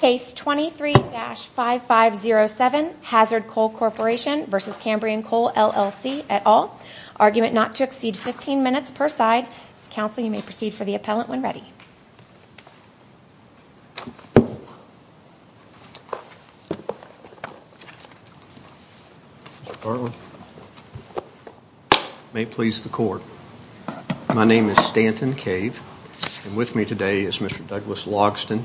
Case 23-5507, Hazard Coal Corporation v. Cambrian Coal LLC et al. Argument not to exceed 15 minutes per side. Counsel, you may proceed for the appellant when ready. Mr. Bartlett. May it please the court. My name is Stanton Cave. With me today is Mr. Douglas Logsdon.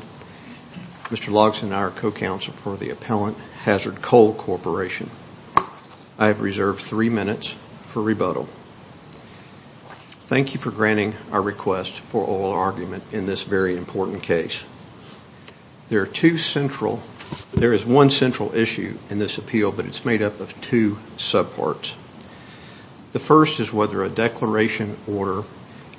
Mr. Logsdon and I are co-counsel for the appellant, Hazard Coal Corporation. I have reserved three minutes for rebuttal. Thank you for granting our request for oral argument in this very important case. There is one central issue in this appeal, but it's made up of two subparts. The first is whether a declaration order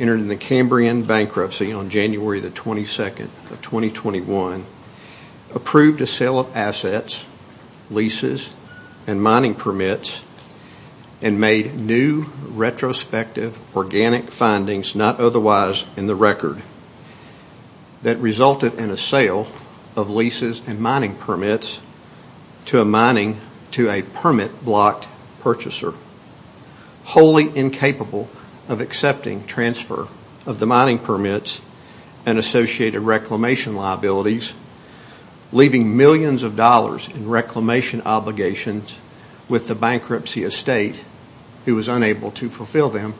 entered in the Cambrian bankruptcy on January 22, 2021, approved a sale of assets, leases, and mining permits, and made new retrospective organic findings not otherwise in the record that resulted in a sale of leases and mining permits to a permit-blocked purchaser, wholly incapable of accepting transfer of the mining permits and associated reclamation liabilities, leaving millions of dollars in reclamation obligations with the bankruptcy estate, who was unable to fulfill them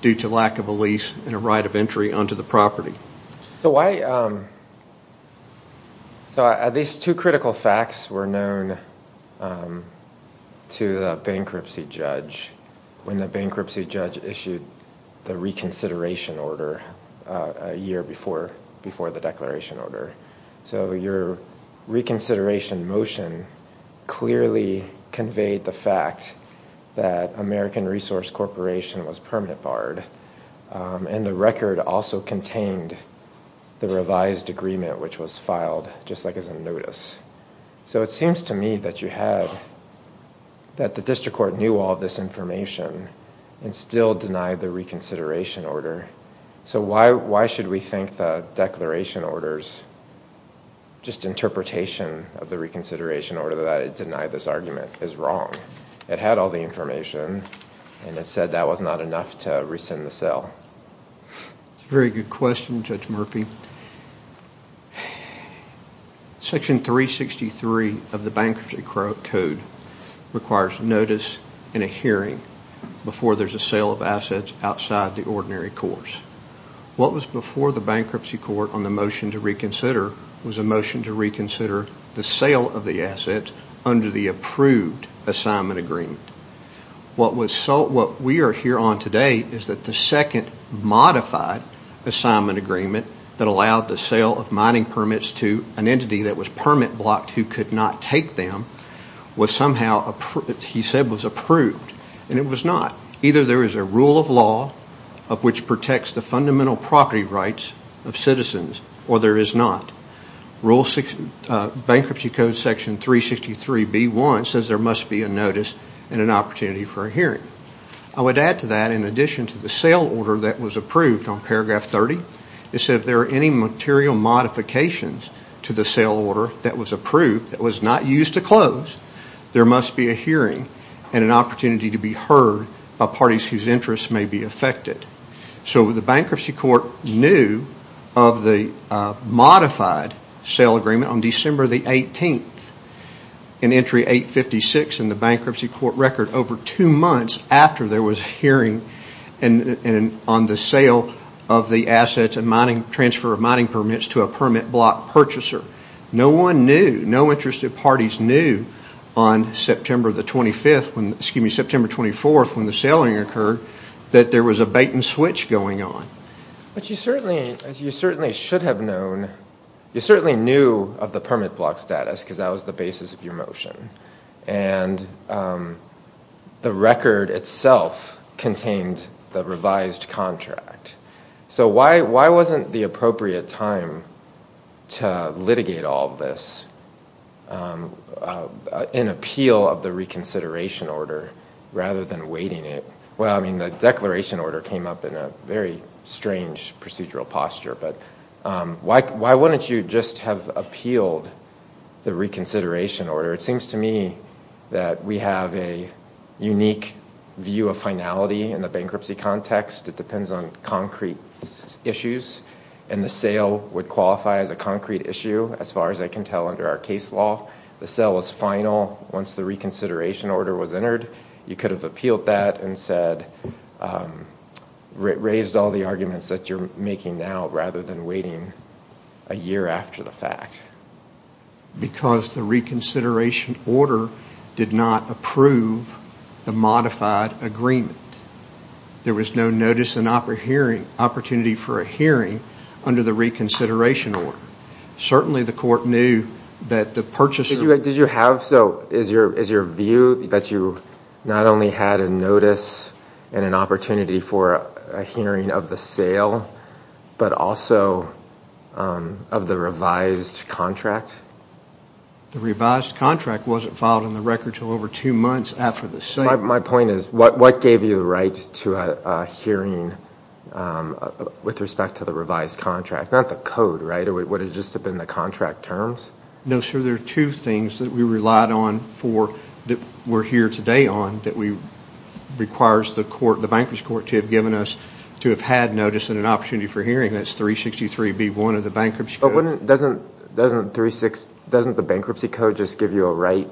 due to lack of a lease and a right of entry onto the property. So these two critical facts were known to the bankruptcy judge when the bankruptcy judge issued the reconsideration order a year before the declaration order. So your reconsideration motion clearly conveyed the fact that American Resource Corporation was permanent barred, and the record also contained the revised agreement, which was filed just like as a notice. So it seems to me that the district court knew all this information and still denied the reconsideration order. So why should we think the declaration order's just interpretation of the reconsideration order that it denied this argument is wrong? It had all the information, and it said that was not enough to rescind the sale. That's a very good question, Judge Murphy. Section 363 of the Bankruptcy Code requires notice and a hearing before there's a sale of assets outside the ordinary course. What was before the bankruptcy court on the motion to reconsider was a motion to reconsider the sale of the assets under the approved assignment agreement. What we are here on today is that the second modified assignment agreement that allowed the sale of mining permits to an entity that was permit blocked who could not take them was somehow, he said, was approved. And it was not. Either there is a rule of law of which protects the fundamental property rights of citizens, or there is not. Bankruptcy Code section 363B1 says there must be a notice and an opportunity for a hearing. I would add to that, in addition to the sale order that was approved on paragraph 30, it said if there are any material modifications to the sale order that was approved that was not used to close, there must be a hearing and an opportunity to be heard by parties whose interests may be affected. So the bankruptcy court knew of the modified sale agreement on December 18, in entry 856 in the bankruptcy court record, over two months after there was a hearing on the sale of the assets and transfer of mining permits to a permit block purchaser. No one knew, no interested parties knew on September 24th when the saling occurred that there was a bait and switch going on. But you certainly should have known, you certainly knew of the permit block status because that was the basis of your motion. And the record itself contained the revised contract. So why wasn't the appropriate time to litigate all of this in appeal of the reconsideration order rather than waiting it? Well, I mean, the declaration order came up in a very strange procedural posture, but why wouldn't you just have appealed the reconsideration order? It seems to me that we have a unique view of finality in the bankruptcy context. It depends on concrete issues, and the sale would qualify as a concrete issue, as far as I can tell under our case law. The sale is final once the reconsideration order was entered. You could have appealed that and raised all the arguments that you're making now rather than waiting a year after the fact. Because the reconsideration order did not approve the modified agreement. There was no notice and opportunity for a hearing under the reconsideration order. Certainly the court knew that the purchaser— Did you have, so is your view that you not only had a notice and an opportunity for a hearing of the sale, but also of the revised contract? The revised contract wasn't filed in the record until over two months after the sale. My point is, what gave you the right to a hearing with respect to the revised contract? Not the code, right? Would it just have been the contract terms? No, sir. There are two things that we relied on for, that we're here today on, that requires the court, the bankruptcy court, to have given us, to have had notice and an opportunity for a hearing. That's 363B1 of the bankruptcy code. Doesn't the bankruptcy code just give you a right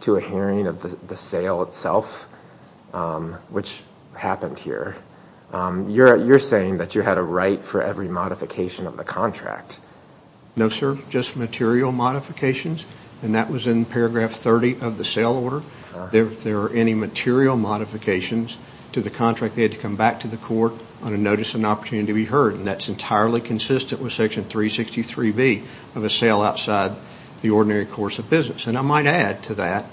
to a hearing of the sale itself, which happened here? You're saying that you had a right for every modification of the contract. No, sir. Just material modifications, and that was in paragraph 30 of the sale order. If there are any material modifications to the contract, they had to come back to the court on a notice and opportunity to be heard, and that's entirely consistent with section 363B of a sale outside the ordinary course of business. And I might add to that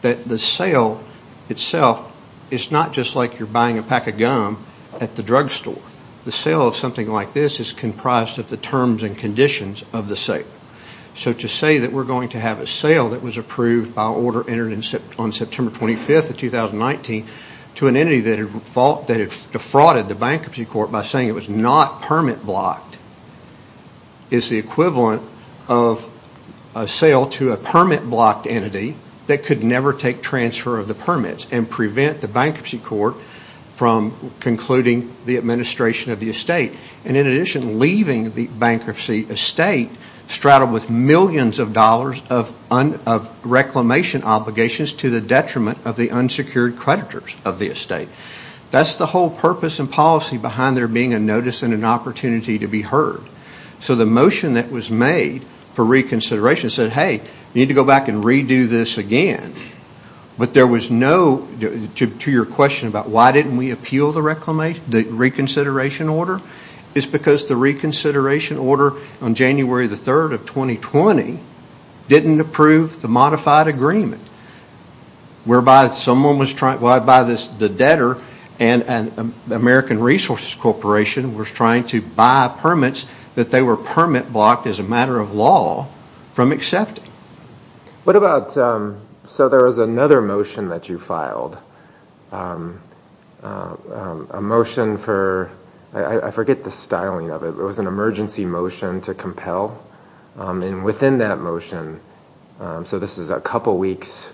that the sale itself is not just like you're buying a pack of gum at the drugstore. The sale of something like this is comprised of the terms and conditions of the sale. So to say that we're going to have a sale that was approved by order entered on September 25th of 2019 to an entity that had defrauded the bankruptcy court by saying it was not permit-blocked is the equivalent of a sale to a permit-blocked entity that could never take transfer of the permits and prevent the bankruptcy court from concluding the administration of the estate, and in addition, leaving the bankruptcy estate straddled with millions of dollars of reclamation obligations to the detriment of the unsecured creditors of the estate. That's the whole purpose and policy behind there being a notice and an opportunity to be heard. So the motion that was made for reconsideration said, hey, we need to go back and redo this again, but there was no, to your question about why didn't we appeal the reconsideration order, it's because the reconsideration order on January 3rd of 2020 didn't approve the modified agreement, whereby the debtor and American Resources Corporation was trying to buy permits that they were permit-blocked as a matter of law from accepting. What about, so there was another motion that you filed, a motion for, I forget the styling of it, it was an emergency motion to compel, and within that motion, so this is a couple weeks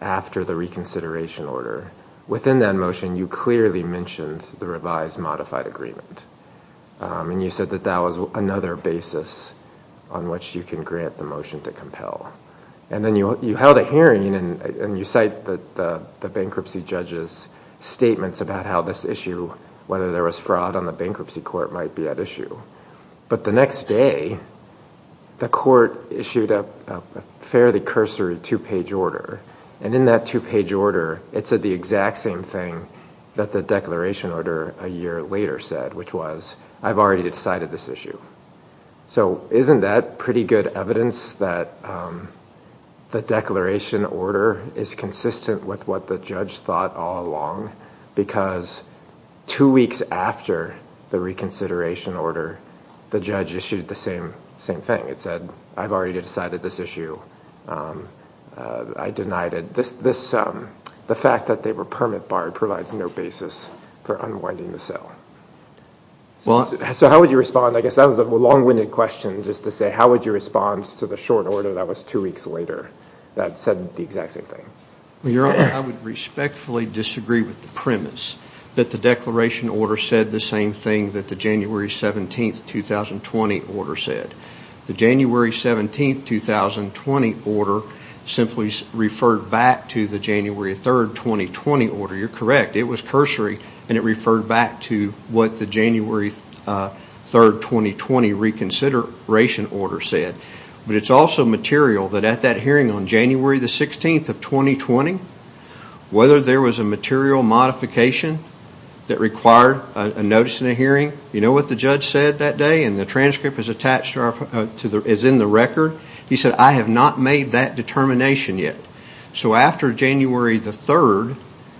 after the reconsideration order, within that motion you clearly mentioned the revised modified agreement, and you said that that was another basis on which you can grant the motion to compel. And then you held a hearing and you cite the bankruptcy judge's statements about how this issue, whether there was fraud on the bankruptcy court might be at issue. But the next day, the court issued a fairly cursory two-page order, and in that two-page order it said the exact same thing that the declaration order a year later said, which was, I've already decided this issue. So isn't that pretty good evidence that the declaration order is consistent with what the judge thought all along? Because two weeks after the reconsideration order, the judge issued the same thing. It said, I've already decided this issue. I denied it. The fact that they were permit barred provides no basis for unwinding the cell. So how would you respond? I guess that was a long-winded question, just to say, how would you respond to the short order that was two weeks later that said the exact same thing? Your Honor, I would respectfully disagree with the premise that the declaration order said the same thing that the January 17, 2020 order said. The January 17, 2020 order simply referred back to the January 3, 2020 order. You're correct. It was cursory, and it referred back to what the January 3, 2020 reconsideration order said. But it's also material that at that hearing on January 16, 2020, whether there was a material modification that required a notice in a hearing, you know what the judge said that day, and the transcript is in the record. He said, I have not made that determination yet. So after January 3,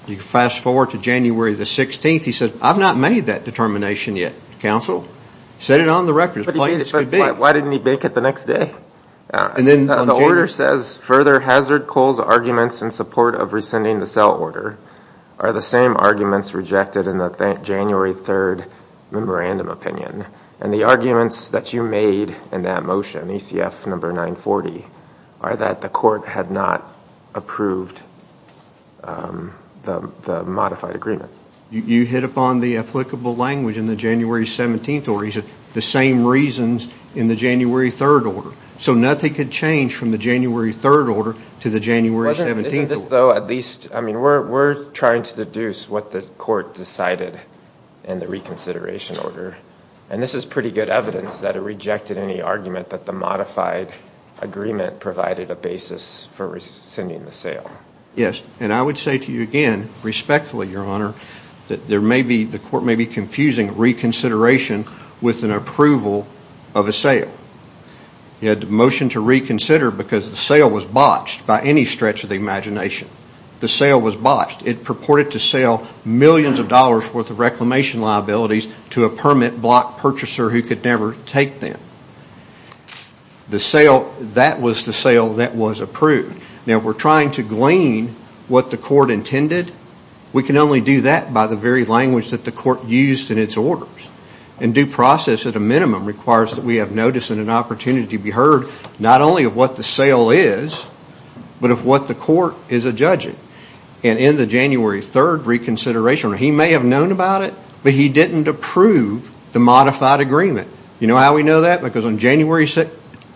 you fast forward to January 16, he said, I've not made that determination yet, counsel. He set it on the record as plain as could be. But why didn't he make it the next day? The order says, further hazard Cole's arguments in support of rescinding the cell order are the same arguments rejected in the January 3 memorandum opinion. And the arguments that you made in that motion, ECF number 940, are that the court had not approved the modified agreement. You hit upon the applicable language in the January 17 order. He said the same reasons in the January 3 order. So nothing could change from the January 3 order to the January 17 order. We're trying to deduce what the court decided in the reconsideration order. And this is pretty good evidence that it rejected any argument that the modified agreement provided a basis for rescinding the sale. Yes, and I would say to you again, respectfully, Your Honor, that the court may be confusing reconsideration with an approval of a sale. He had the motion to reconsider because the sale was botched by any stretch of the imagination. The sale was botched. It purported to sell millions of dollars worth of reclamation liabilities to a permit block purchaser who could never take them. The sale, that was the sale that was approved. Now, if we're trying to glean what the court intended, we can only do that by the very language that the court used in its orders. And due process at a minimum requires that we have notice and an opportunity to be heard not only of what the sale is, but of what the court is adjudging. And in the January 3 reconsideration, he may have known about it, but he didn't approve the modified agreement. You know how we know that? Because on January 6,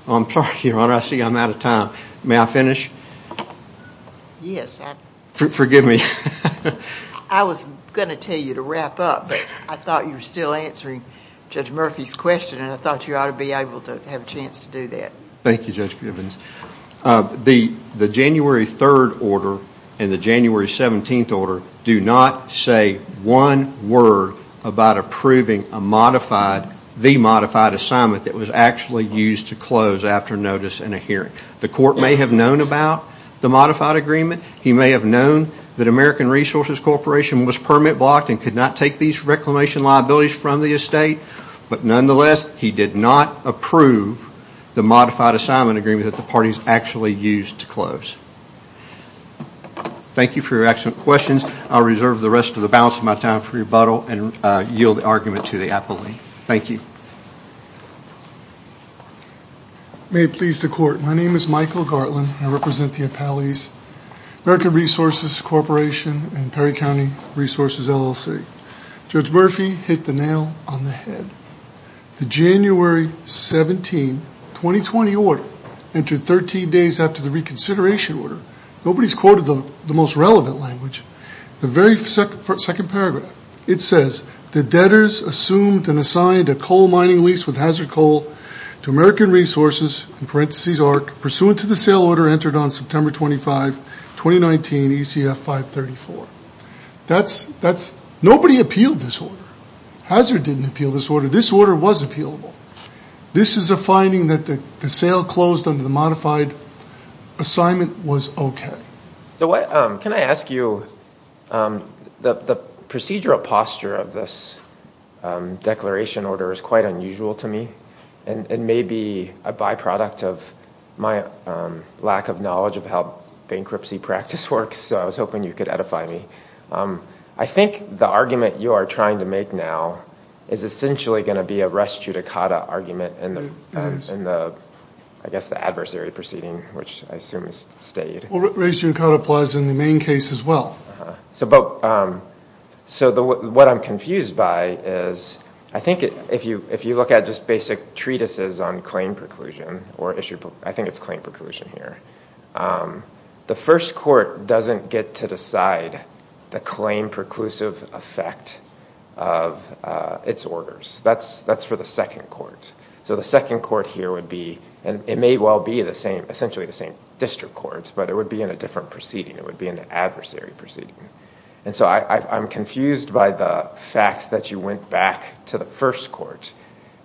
I'm sorry, Your Honor, I see I'm out of time. May I finish? Yes. Forgive me. I was going to tell you to wrap up, but I thought you were still answering Judge Murphy's question, and I thought you ought to be able to have a chance to do that. Thank you, Judge Gibbons. The January 3 order and the January 17 order do not say one word about approving a modified, the modified assignment that was actually used to close after notice and a hearing. The court may have known about the modified agreement. He may have known that American Resources Corporation was permit blocked and could not take these reclamation liabilities from the estate. But nonetheless, he did not approve the modified assignment agreement that the parties actually used to close. Thank you for your excellent questions. I'll reserve the rest of the balance of my time for rebuttal and yield the argument to the appellee. Thank you. May it please the Court. My name is Michael Gartland. I represent the appellees, American Resources Corporation and Perry County Resources LLC. Judge Murphy hit the nail on the head. The January 17, 2020 order entered 13 days after the reconsideration order. Nobody's quoted the most relevant language. The very second paragraph, it says, The debtors assumed and assigned a coal mining lease with Hazard Coal to American Resources, in parentheses arc, pursuant to the sale order entered on September 25, 2019, ECF 534. Nobody appealed this order. Hazard didn't appeal this order. This order was appealable. This is a finding that the sale closed under the modified assignment was okay. Can I ask you, the procedural posture of this declaration order is quite unusual to me. It may be a byproduct of my lack of knowledge of how bankruptcy practice works. So I was hoping you could edify me. I think the argument you are trying to make now is essentially going to be a res judicata argument in the adversary proceeding, which I assume is stayed. Res judicata applies in the main case as well. So what I'm confused by is, I think if you look at just basic treatises on claim preclusion, I think it's claim preclusion here. The first court doesn't get to decide the claim preclusive effect of its orders. That's for the second court. So the second court here would be, and it may well be essentially the same district courts, but it would be in a different proceeding. It would be in the adversary proceeding. And so I'm confused by the fact that you went back to the first court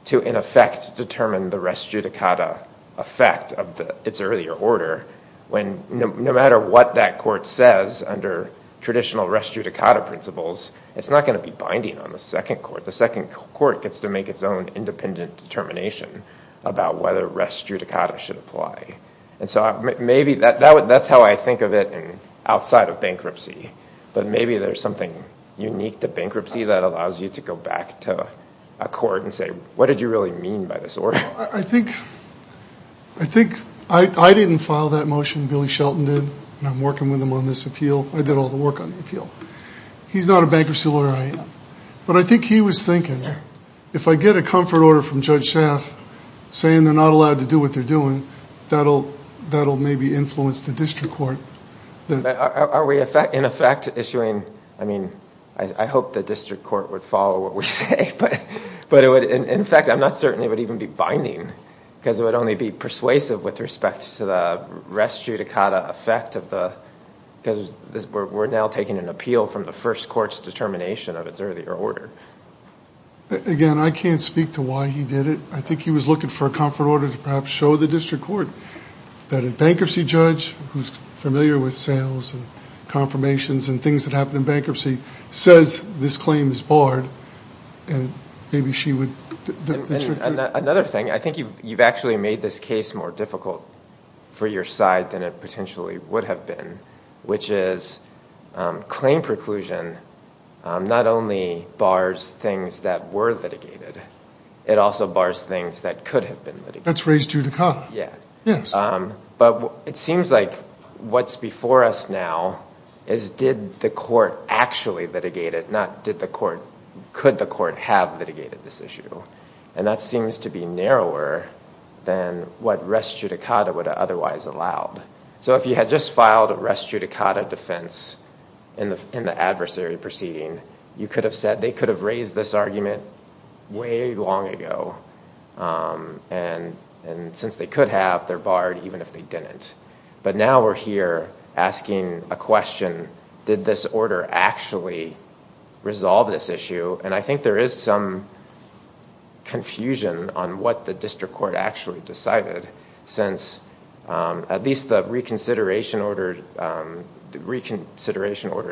to, in effect, determine the res judicata effect of its earlier order when no matter what that court says under traditional res judicata principles, it's not going to be binding on the second court. The second court gets to make its own independent determination about whether res judicata should apply. And so maybe that's how I think of it outside of bankruptcy. But maybe there's something unique to bankruptcy that allows you to go back to a court and say, what did you really mean by this order? I think I didn't file that motion. Billy Shelton did, and I'm working with him on this appeal. I did all the work on the appeal. He's not a bankruptcy lawyer. I am. But I think he was thinking, if I get a comfort order from Judge Schaaf saying they're not allowed to do what they're doing, that'll maybe influence the district court. Are we, in effect, issuing, I mean, I hope the district court would follow what we say. But in effect, I'm not certain it would even be binding, because it would only be persuasive with respect to the res judicata effect. Because we're now taking an appeal from the first court's determination of its earlier order. Again, I can't speak to why he did it. I think he was looking for a comfort order to perhaps show the district court that a bankruptcy judge, who's familiar with sales and confirmations and things that happen in bankruptcy, says this claim is barred, and maybe she would. Another thing, I think you've actually made this case more difficult for your side than it potentially would have been, which is claim preclusion not only bars things that were litigated. It also bars things that could have been litigated. That's res judicata. Yes. But it seems like what's before us now is did the court actually litigate it, could the court have litigated this issue? And that seems to be narrower than what res judicata would have otherwise allowed. So if you had just filed a res judicata defense in the adversary proceeding, you could have said they could have raised this argument way long ago. And since they could have, they're barred even if they didn't. But now we're here asking a question, did this order actually resolve this issue? And I think there is some confusion on what the district court actually decided, since at least the reconsideration order's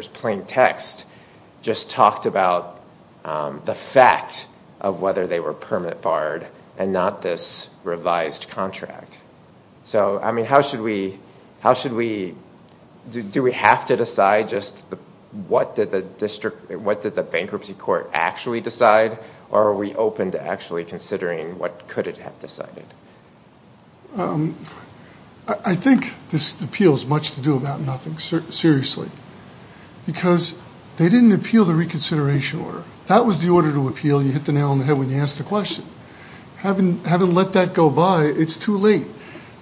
plain text just talked about the fact of whether they were permit barred and not this revised contract. So, I mean, how should we, how should we, do we have to decide just what did the district, what did the bankruptcy court actually decide, or are we open to actually considering what could it have decided? I think this appeal has much to do about nothing, seriously. Because they didn't appeal the reconsideration order. That was the order to appeal. You hit the nail on the head when you asked the question. Having let that go by, it's too late.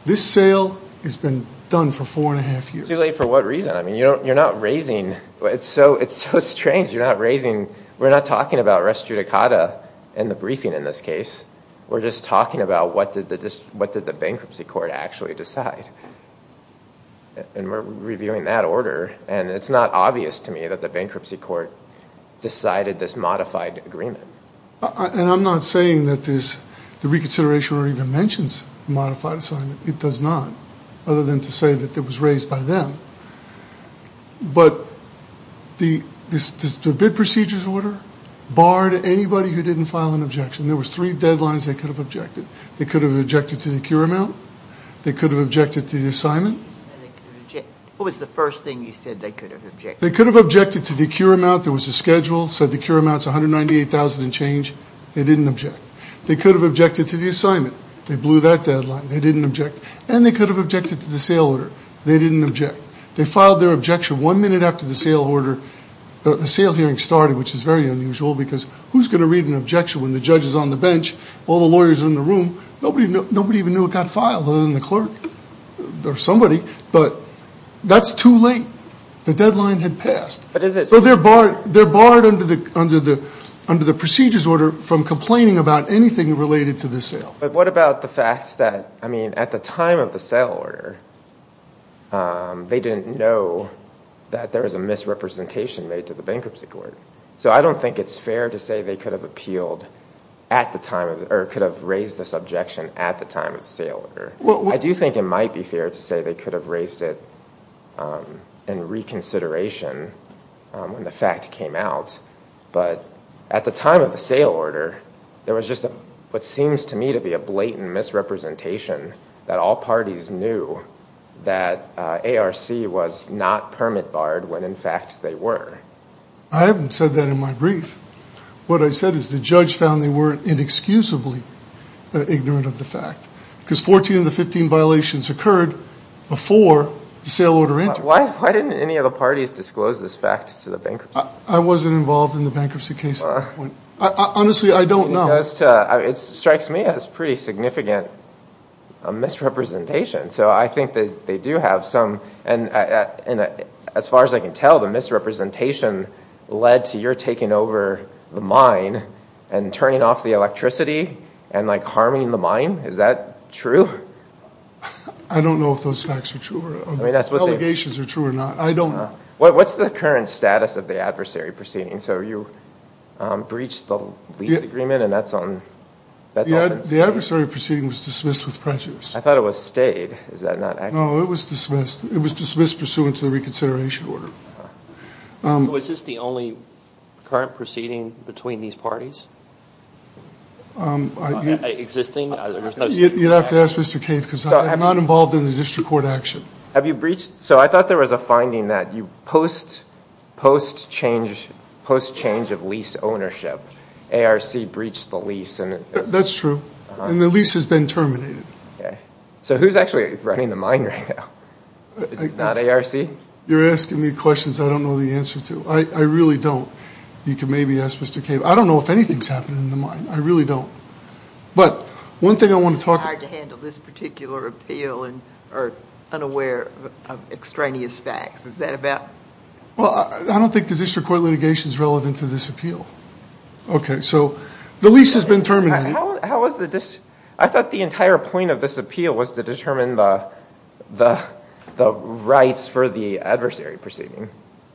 This sale has been done for four and a half years. Too late for what reason? I mean, you're not raising, it's so strange, you're not raising, we're not talking about res judicata and the briefing in this case. We're just talking about what did the bankruptcy court actually decide. And we're reviewing that order, and it's not obvious to me that the bankruptcy court decided this modified agreement. And I'm not saying that this, the reconsideration order even mentions a modified assignment. It does not, other than to say that it was raised by them. But the bid procedures order barred anybody who didn't file an objection. There was three deadlines they could have objected. They could have objected to the cure amount. They could have objected to the assignment. What was the first thing you said they could have objected to? They could have objected to the cure amount. There was a schedule, said the cure amount is $198,000 and change. They didn't object. They could have objected to the assignment. They blew that deadline. They didn't object. And they could have objected to the sale order. They didn't object. They filed their objection one minute after the sale order, the sale hearing started, which is very unusual because who's going to read an objection when the judge is on the bench, all the lawyers are in the room. Nobody even knew it got filed other than the clerk or somebody. But that's too late. The deadline had passed. So they're barred under the procedures order from complaining about anything related to the sale. But what about the fact that, I mean, at the time of the sale order, they didn't know that there was a misrepresentation made to the bankruptcy court. So I don't think it's fair to say they could have appealed at the time of or could have raised this objection at the time of the sale order. I do think it might be fair to say they could have raised it in reconsideration when the fact came out. But at the time of the sale order, there was just what seems to me to be a blatant misrepresentation that all parties knew that ARC was not permit barred when, in fact, they were. I haven't said that in my brief. What I said is the judge found they were inexcusably ignorant of the fact because 14 of the 15 violations occurred before the sale order entered. Why didn't any of the parties disclose this fact to the bankruptcy court? I wasn't involved in the bankruptcy case. Honestly, I don't know. It strikes me as pretty significant misrepresentation. So I think that they do have some. And as far as I can tell, the misrepresentation led to your taking over the mine and turning off the electricity and harming the mine. Is that true? I don't know if those facts are true. The allegations are true or not. I don't know. What's the current status of the adversary proceeding? So you breached the lease agreement, and that's on Bethel? The adversary proceeding was dismissed with prejudice. I thought it was stayed. No, it was dismissed. It was dismissed pursuant to the reconsideration order. Was this the only current proceeding between these parties? Existing? You'd have to ask Mr. Cave because I'm not involved in the district court action. So I thought there was a finding that post change of lease ownership, ARC breached the lease. That's true. And the lease has been terminated. So who's actually running the mine right now? It's not ARC? You're asking me questions I don't know the answer to. I really don't. You can maybe ask Mr. Cave. I don't know if anything's happened in the mine. I really don't. But one thing I want to talk about. Hard to handle this particular appeal or unaware of extraneous facts. Is that about? Well, I don't think the district court litigation is relevant to this appeal. Okay, so the lease has been terminated. I thought the entire point of this appeal was to determine the rights for the adversary proceeding.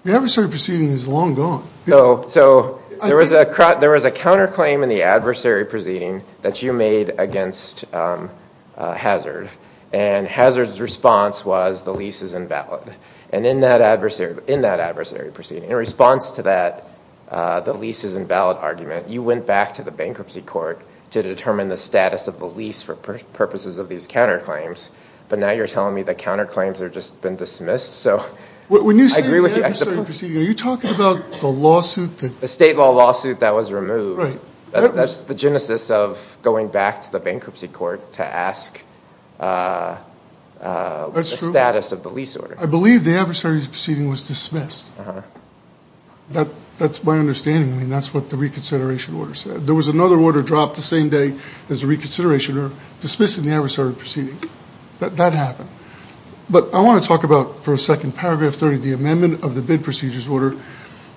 The adversary proceeding is long gone. So there was a counterclaim in the adversary proceeding that you made against Hazard. And Hazard's response was the lease is invalid. And in that adversary proceeding, in response to that the lease is invalid argument, you went back to the bankruptcy court to determine the status of the lease for purposes of these counterclaims. But now you're telling me the counterclaims have just been dismissed? When you say the adversary proceeding, are you talking about the lawsuit? The state law lawsuit that was removed. That's the genesis of going back to the bankruptcy court to ask the status of the lease order. I believe the adversary proceeding was dismissed. That's my understanding. I mean, that's what the reconsideration order said. There was another order dropped the same day as the reconsideration order dismissing the adversary proceeding. That happened. But I want to talk about, for a second, paragraph 30, the amendment of the bid procedures order.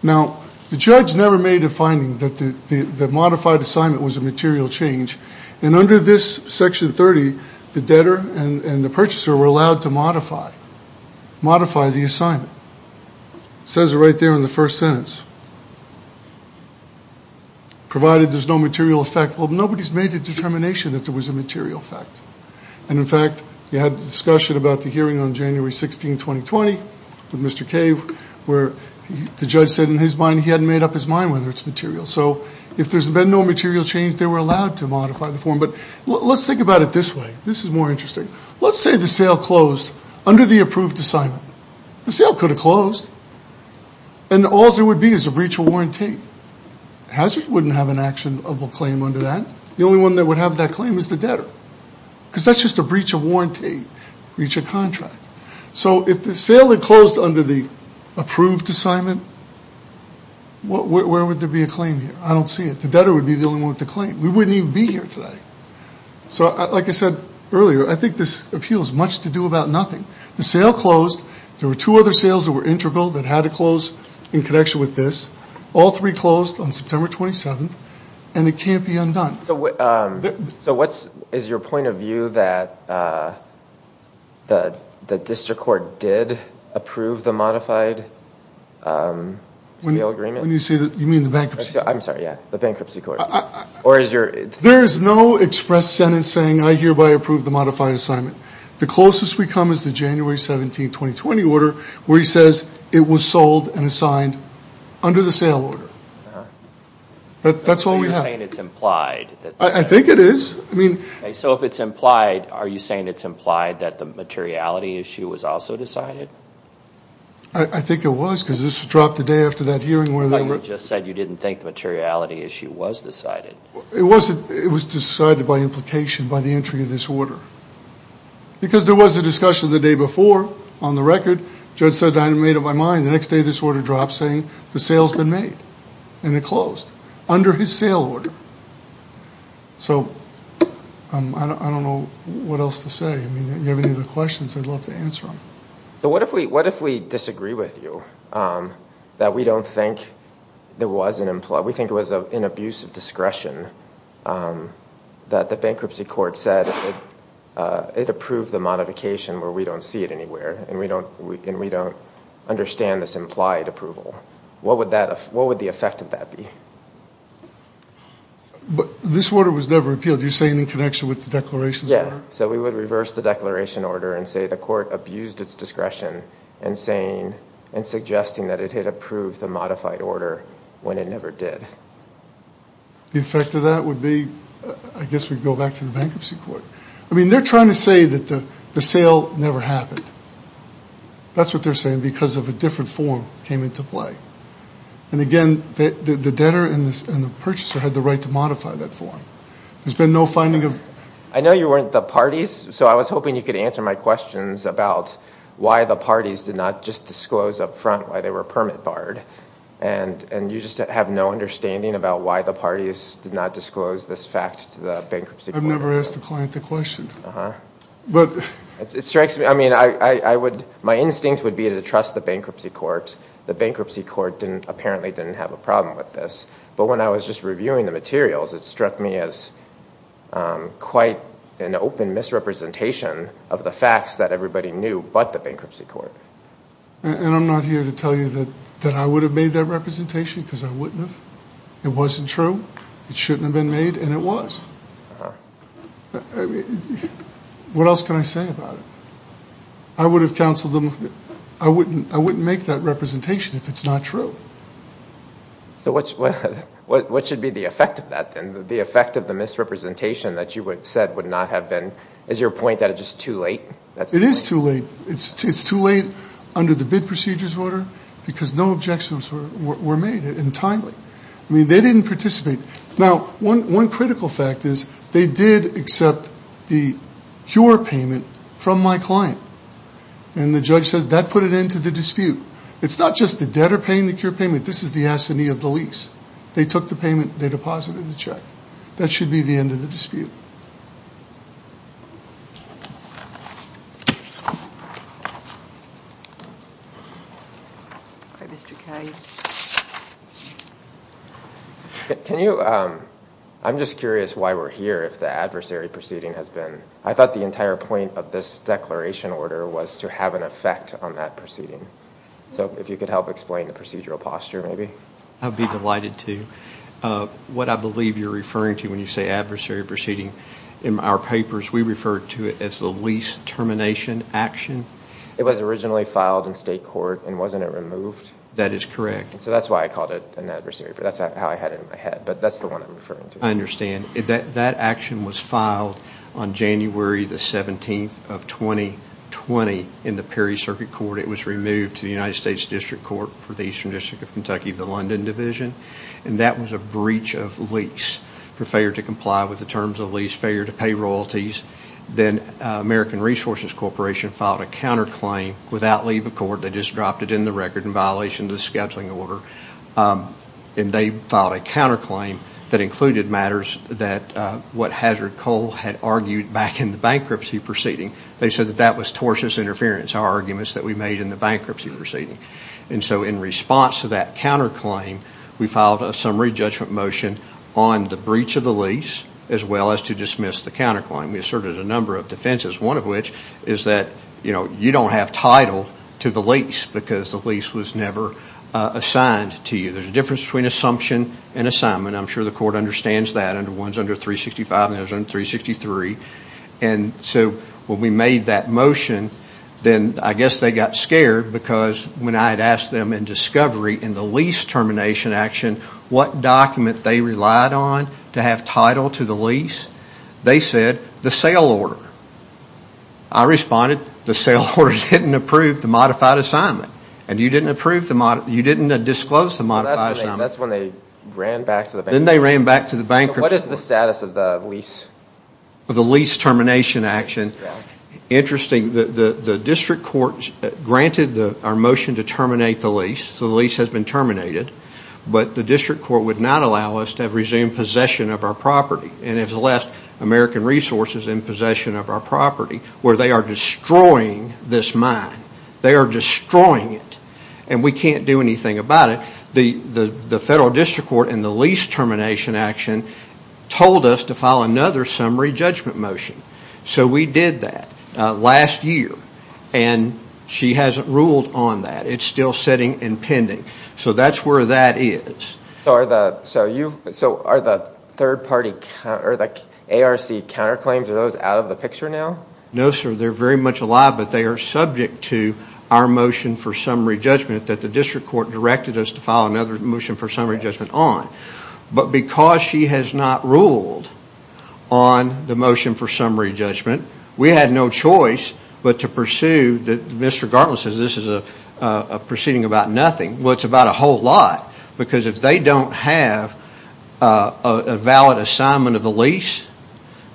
Now, the judge never made a finding that the modified assignment was a material change. And under this section 30, the debtor and the purchaser were allowed to modify the assignment. It says it right there in the first sentence. Provided there's no material effect. Well, nobody's made a determination that there was a material effect. And, in fact, you had discussion about the hearing on January 16, 2020, with Mr. Cave, where the judge said in his mind he hadn't made up his mind whether it's material. So if there's been no material change, they were allowed to modify the form. But let's think about it this way. This is more interesting. Let's say the sale closed under the approved assignment. The sale could have closed. And all there would be is a breach of warranty. Hazard wouldn't have an actionable claim under that. The only one that would have that claim is the debtor. Because that's just a breach of warranty, breach of contract. So if the sale had closed under the approved assignment, where would there be a claim here? I don't see it. The debtor would be the only one with the claim. We wouldn't even be here today. So, like I said earlier, I think this appeals much to do about nothing. The sale closed. There were two other sales that were integral that had to close in connection with this. All three closed on September 27th. And it can't be undone. So is your point of view that the district court did approve the modified sale agreement? You mean the bankruptcy court? I'm sorry, yeah. The bankruptcy court. There is no express sentence saying, I hereby approve the modified assignment. The closest we come is the January 17, 2020 order where he says it was sold and assigned under the sale order. That's all we have. So you're saying it's implied. I think it is. So if it's implied, are you saying it's implied that the materiality issue was also decided? I think it was because this was dropped the day after that hearing. You just said you didn't think the materiality issue was decided. It was decided by implication by the entry of this order. Because there was a discussion the day before on the record. The judge said I made up my mind. The next day this order dropped saying the sale's been made. And it closed under his sale order. So I don't know what else to say. If you have any other questions, I'd love to answer them. What if we disagree with you that we don't think there was an implied? We think it was an abuse of discretion that the bankruptcy court said it approved the modification where we don't see it anywhere and we don't understand this implied approval. What would the effect of that be? This order was never appealed. Are you saying in connection with the declarations order? Yes. So we would reverse the declaration order and say the court abused its discretion in suggesting that it had approved the modified order when it never did. The effect of that would be, I guess we'd go back to the bankruptcy court. I mean, they're trying to say that the sale never happened. That's what they're saying because of a different form came into play. And, again, the debtor and the purchaser had the right to modify that form. There's been no finding of... I know you weren't the parties, so I was hoping you could answer my questions about why the parties did not just disclose up front why they were permit barred. And you just have no understanding about why the parties did not disclose this fact to the bankruptcy court. I've never asked the client the question. It strikes me. I mean, my instinct would be to trust the bankruptcy court. The bankruptcy court apparently didn't have a problem with this. But when I was just reviewing the materials, it struck me as quite an open misrepresentation of the facts that everybody knew but the bankruptcy court. And I'm not here to tell you that I would have made that representation because I wouldn't have. It wasn't true. It shouldn't have been made, and it was. What else can I say about it? I would have counseled them. I wouldn't make that representation if it's not true. So what should be the effect of that then, the effect of the misrepresentation that you said would not have been, is your point that it's just too late? It is too late. It's too late under the bid procedures order because no objections were made entirely. I mean, they didn't participate. Now, one critical fact is they did accept the cure payment from my client, and the judge says that put an end to the dispute. It's not just the debtor paying the cure payment. This is the assignee of the lease. They took the payment. They deposited the check. That should be the end of the dispute. Can you, I'm just curious why we're here if the adversary proceeding has been, I thought the entire point of this declaration order was to have an effect on that proceeding. So if you could help explain the procedural posture maybe. I'd be delighted to. What I believe you're referring to when you say adversary proceeding, in our papers we refer to it as the lease termination action. It was originally filed in state court, and wasn't it removed? That is correct. So that's why I called it an adversary proceeding. That's how I had it in my head. But that's the one I'm referring to. I understand. That action was filed on January the 17th of 2020 in the Perry Circuit Court. It was removed to the United States District Court for the Eastern District of Kentucky, the London Division. And that was a breach of lease for failure to comply with the terms of lease, failure to pay royalties. Then American Resources Corporation filed a counterclaim without leave of court. They just dropped it in the record in violation of the scheduling order. And they filed a counterclaim that included matters that what Hazard Coal had argued back in the bankruptcy proceeding. They said that that was tortious interference, our arguments that we made in the bankruptcy proceeding. And so in response to that counterclaim, we filed a summary judgment motion on the breach of the lease as well as to dismiss the counterclaim. We asserted a number of defenses, one of which is that you don't have title to the lease because the lease was never assigned to you. There's a difference between assumption and assignment. I'm sure the court understands that. One's under 365 and the other's under 363. And so when we made that motion, then I guess they got scared because when I had asked them in discovery in the lease termination action, what document they relied on to have title to the lease, they said the sale order. I responded, the sale order didn't approve the modified assignment. And you didn't disclose the modified assignment. That's when they ran back to the bankruptcy. Then they ran back to the bankruptcy. What is the status of the lease? The lease termination action. Interesting. The district court granted our motion to terminate the lease. The lease has been terminated. But the district court would not allow us to resume possession of our property and has left American Resources in possession of our property where they are destroying this mine. They are destroying it. And we can't do anything about it. The federal district court in the lease termination action told us to file another summary judgment motion. So we did that last year. And she hasn't ruled on that. It's still sitting and pending. So that's where that is. So are the ARC counterclaims, are those out of the picture now? No, sir. They're very much alive, but they are subject to our motion for summary judgment that the district court directed us to file another motion for summary judgment on. But because she has not ruled on the motion for summary judgment, we had no choice but to pursue. Mr. Gartland says this is a proceeding about nothing. Well, it's about a whole lot. Because if they don't have a valid assignment of the lease,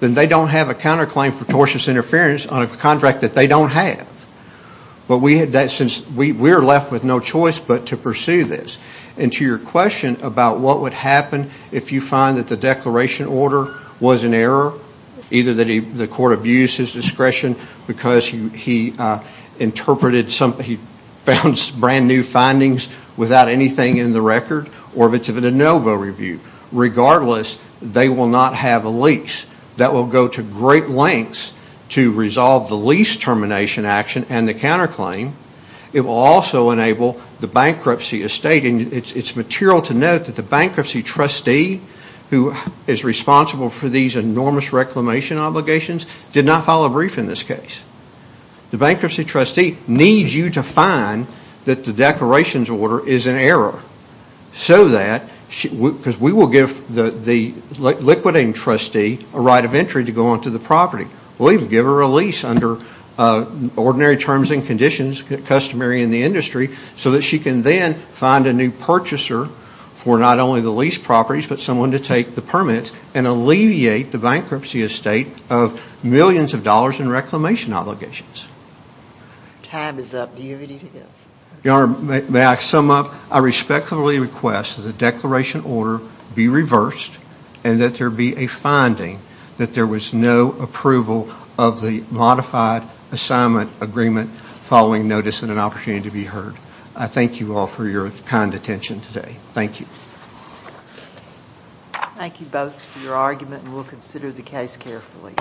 then they don't have a counterclaim for tortious interference on a contract that they don't have. But we are left with no choice but to pursue this. And to your question about what would happen if you find that the declaration order was in error, either that the court abused his discretion because he interpreted something, he found brand new findings without anything in the record, or if it's a de novo review. Regardless, they will not have a lease. That will go to great lengths to resolve the lease termination action and the counterclaim. It will also enable the bankruptcy estate. And it's material to note that the bankruptcy trustee who is responsible for these enormous reclamation obligations did not file a brief in this case. The bankruptcy trustee needs you to find that the declarations order is in error. So that, because we will give the liquidating trustee a right of entry to go onto the property. We'll even give her a lease under ordinary terms and conditions customary in the industry so that she can then find a new purchaser for not only the lease properties but someone to take the permits and alleviate the bankruptcy estate of millions of dollars in reclamation obligations. Time is up. Do you have anything else? Your Honor, may I sum up? I respectfully request that the declaration order be reversed and that there be a finding that there was no approval of the modified assignment agreement following notice and an opportunity to be heard. I thank you all for your kind attention today. Thank you. Thank you both for your argument and we'll consider the case carefully.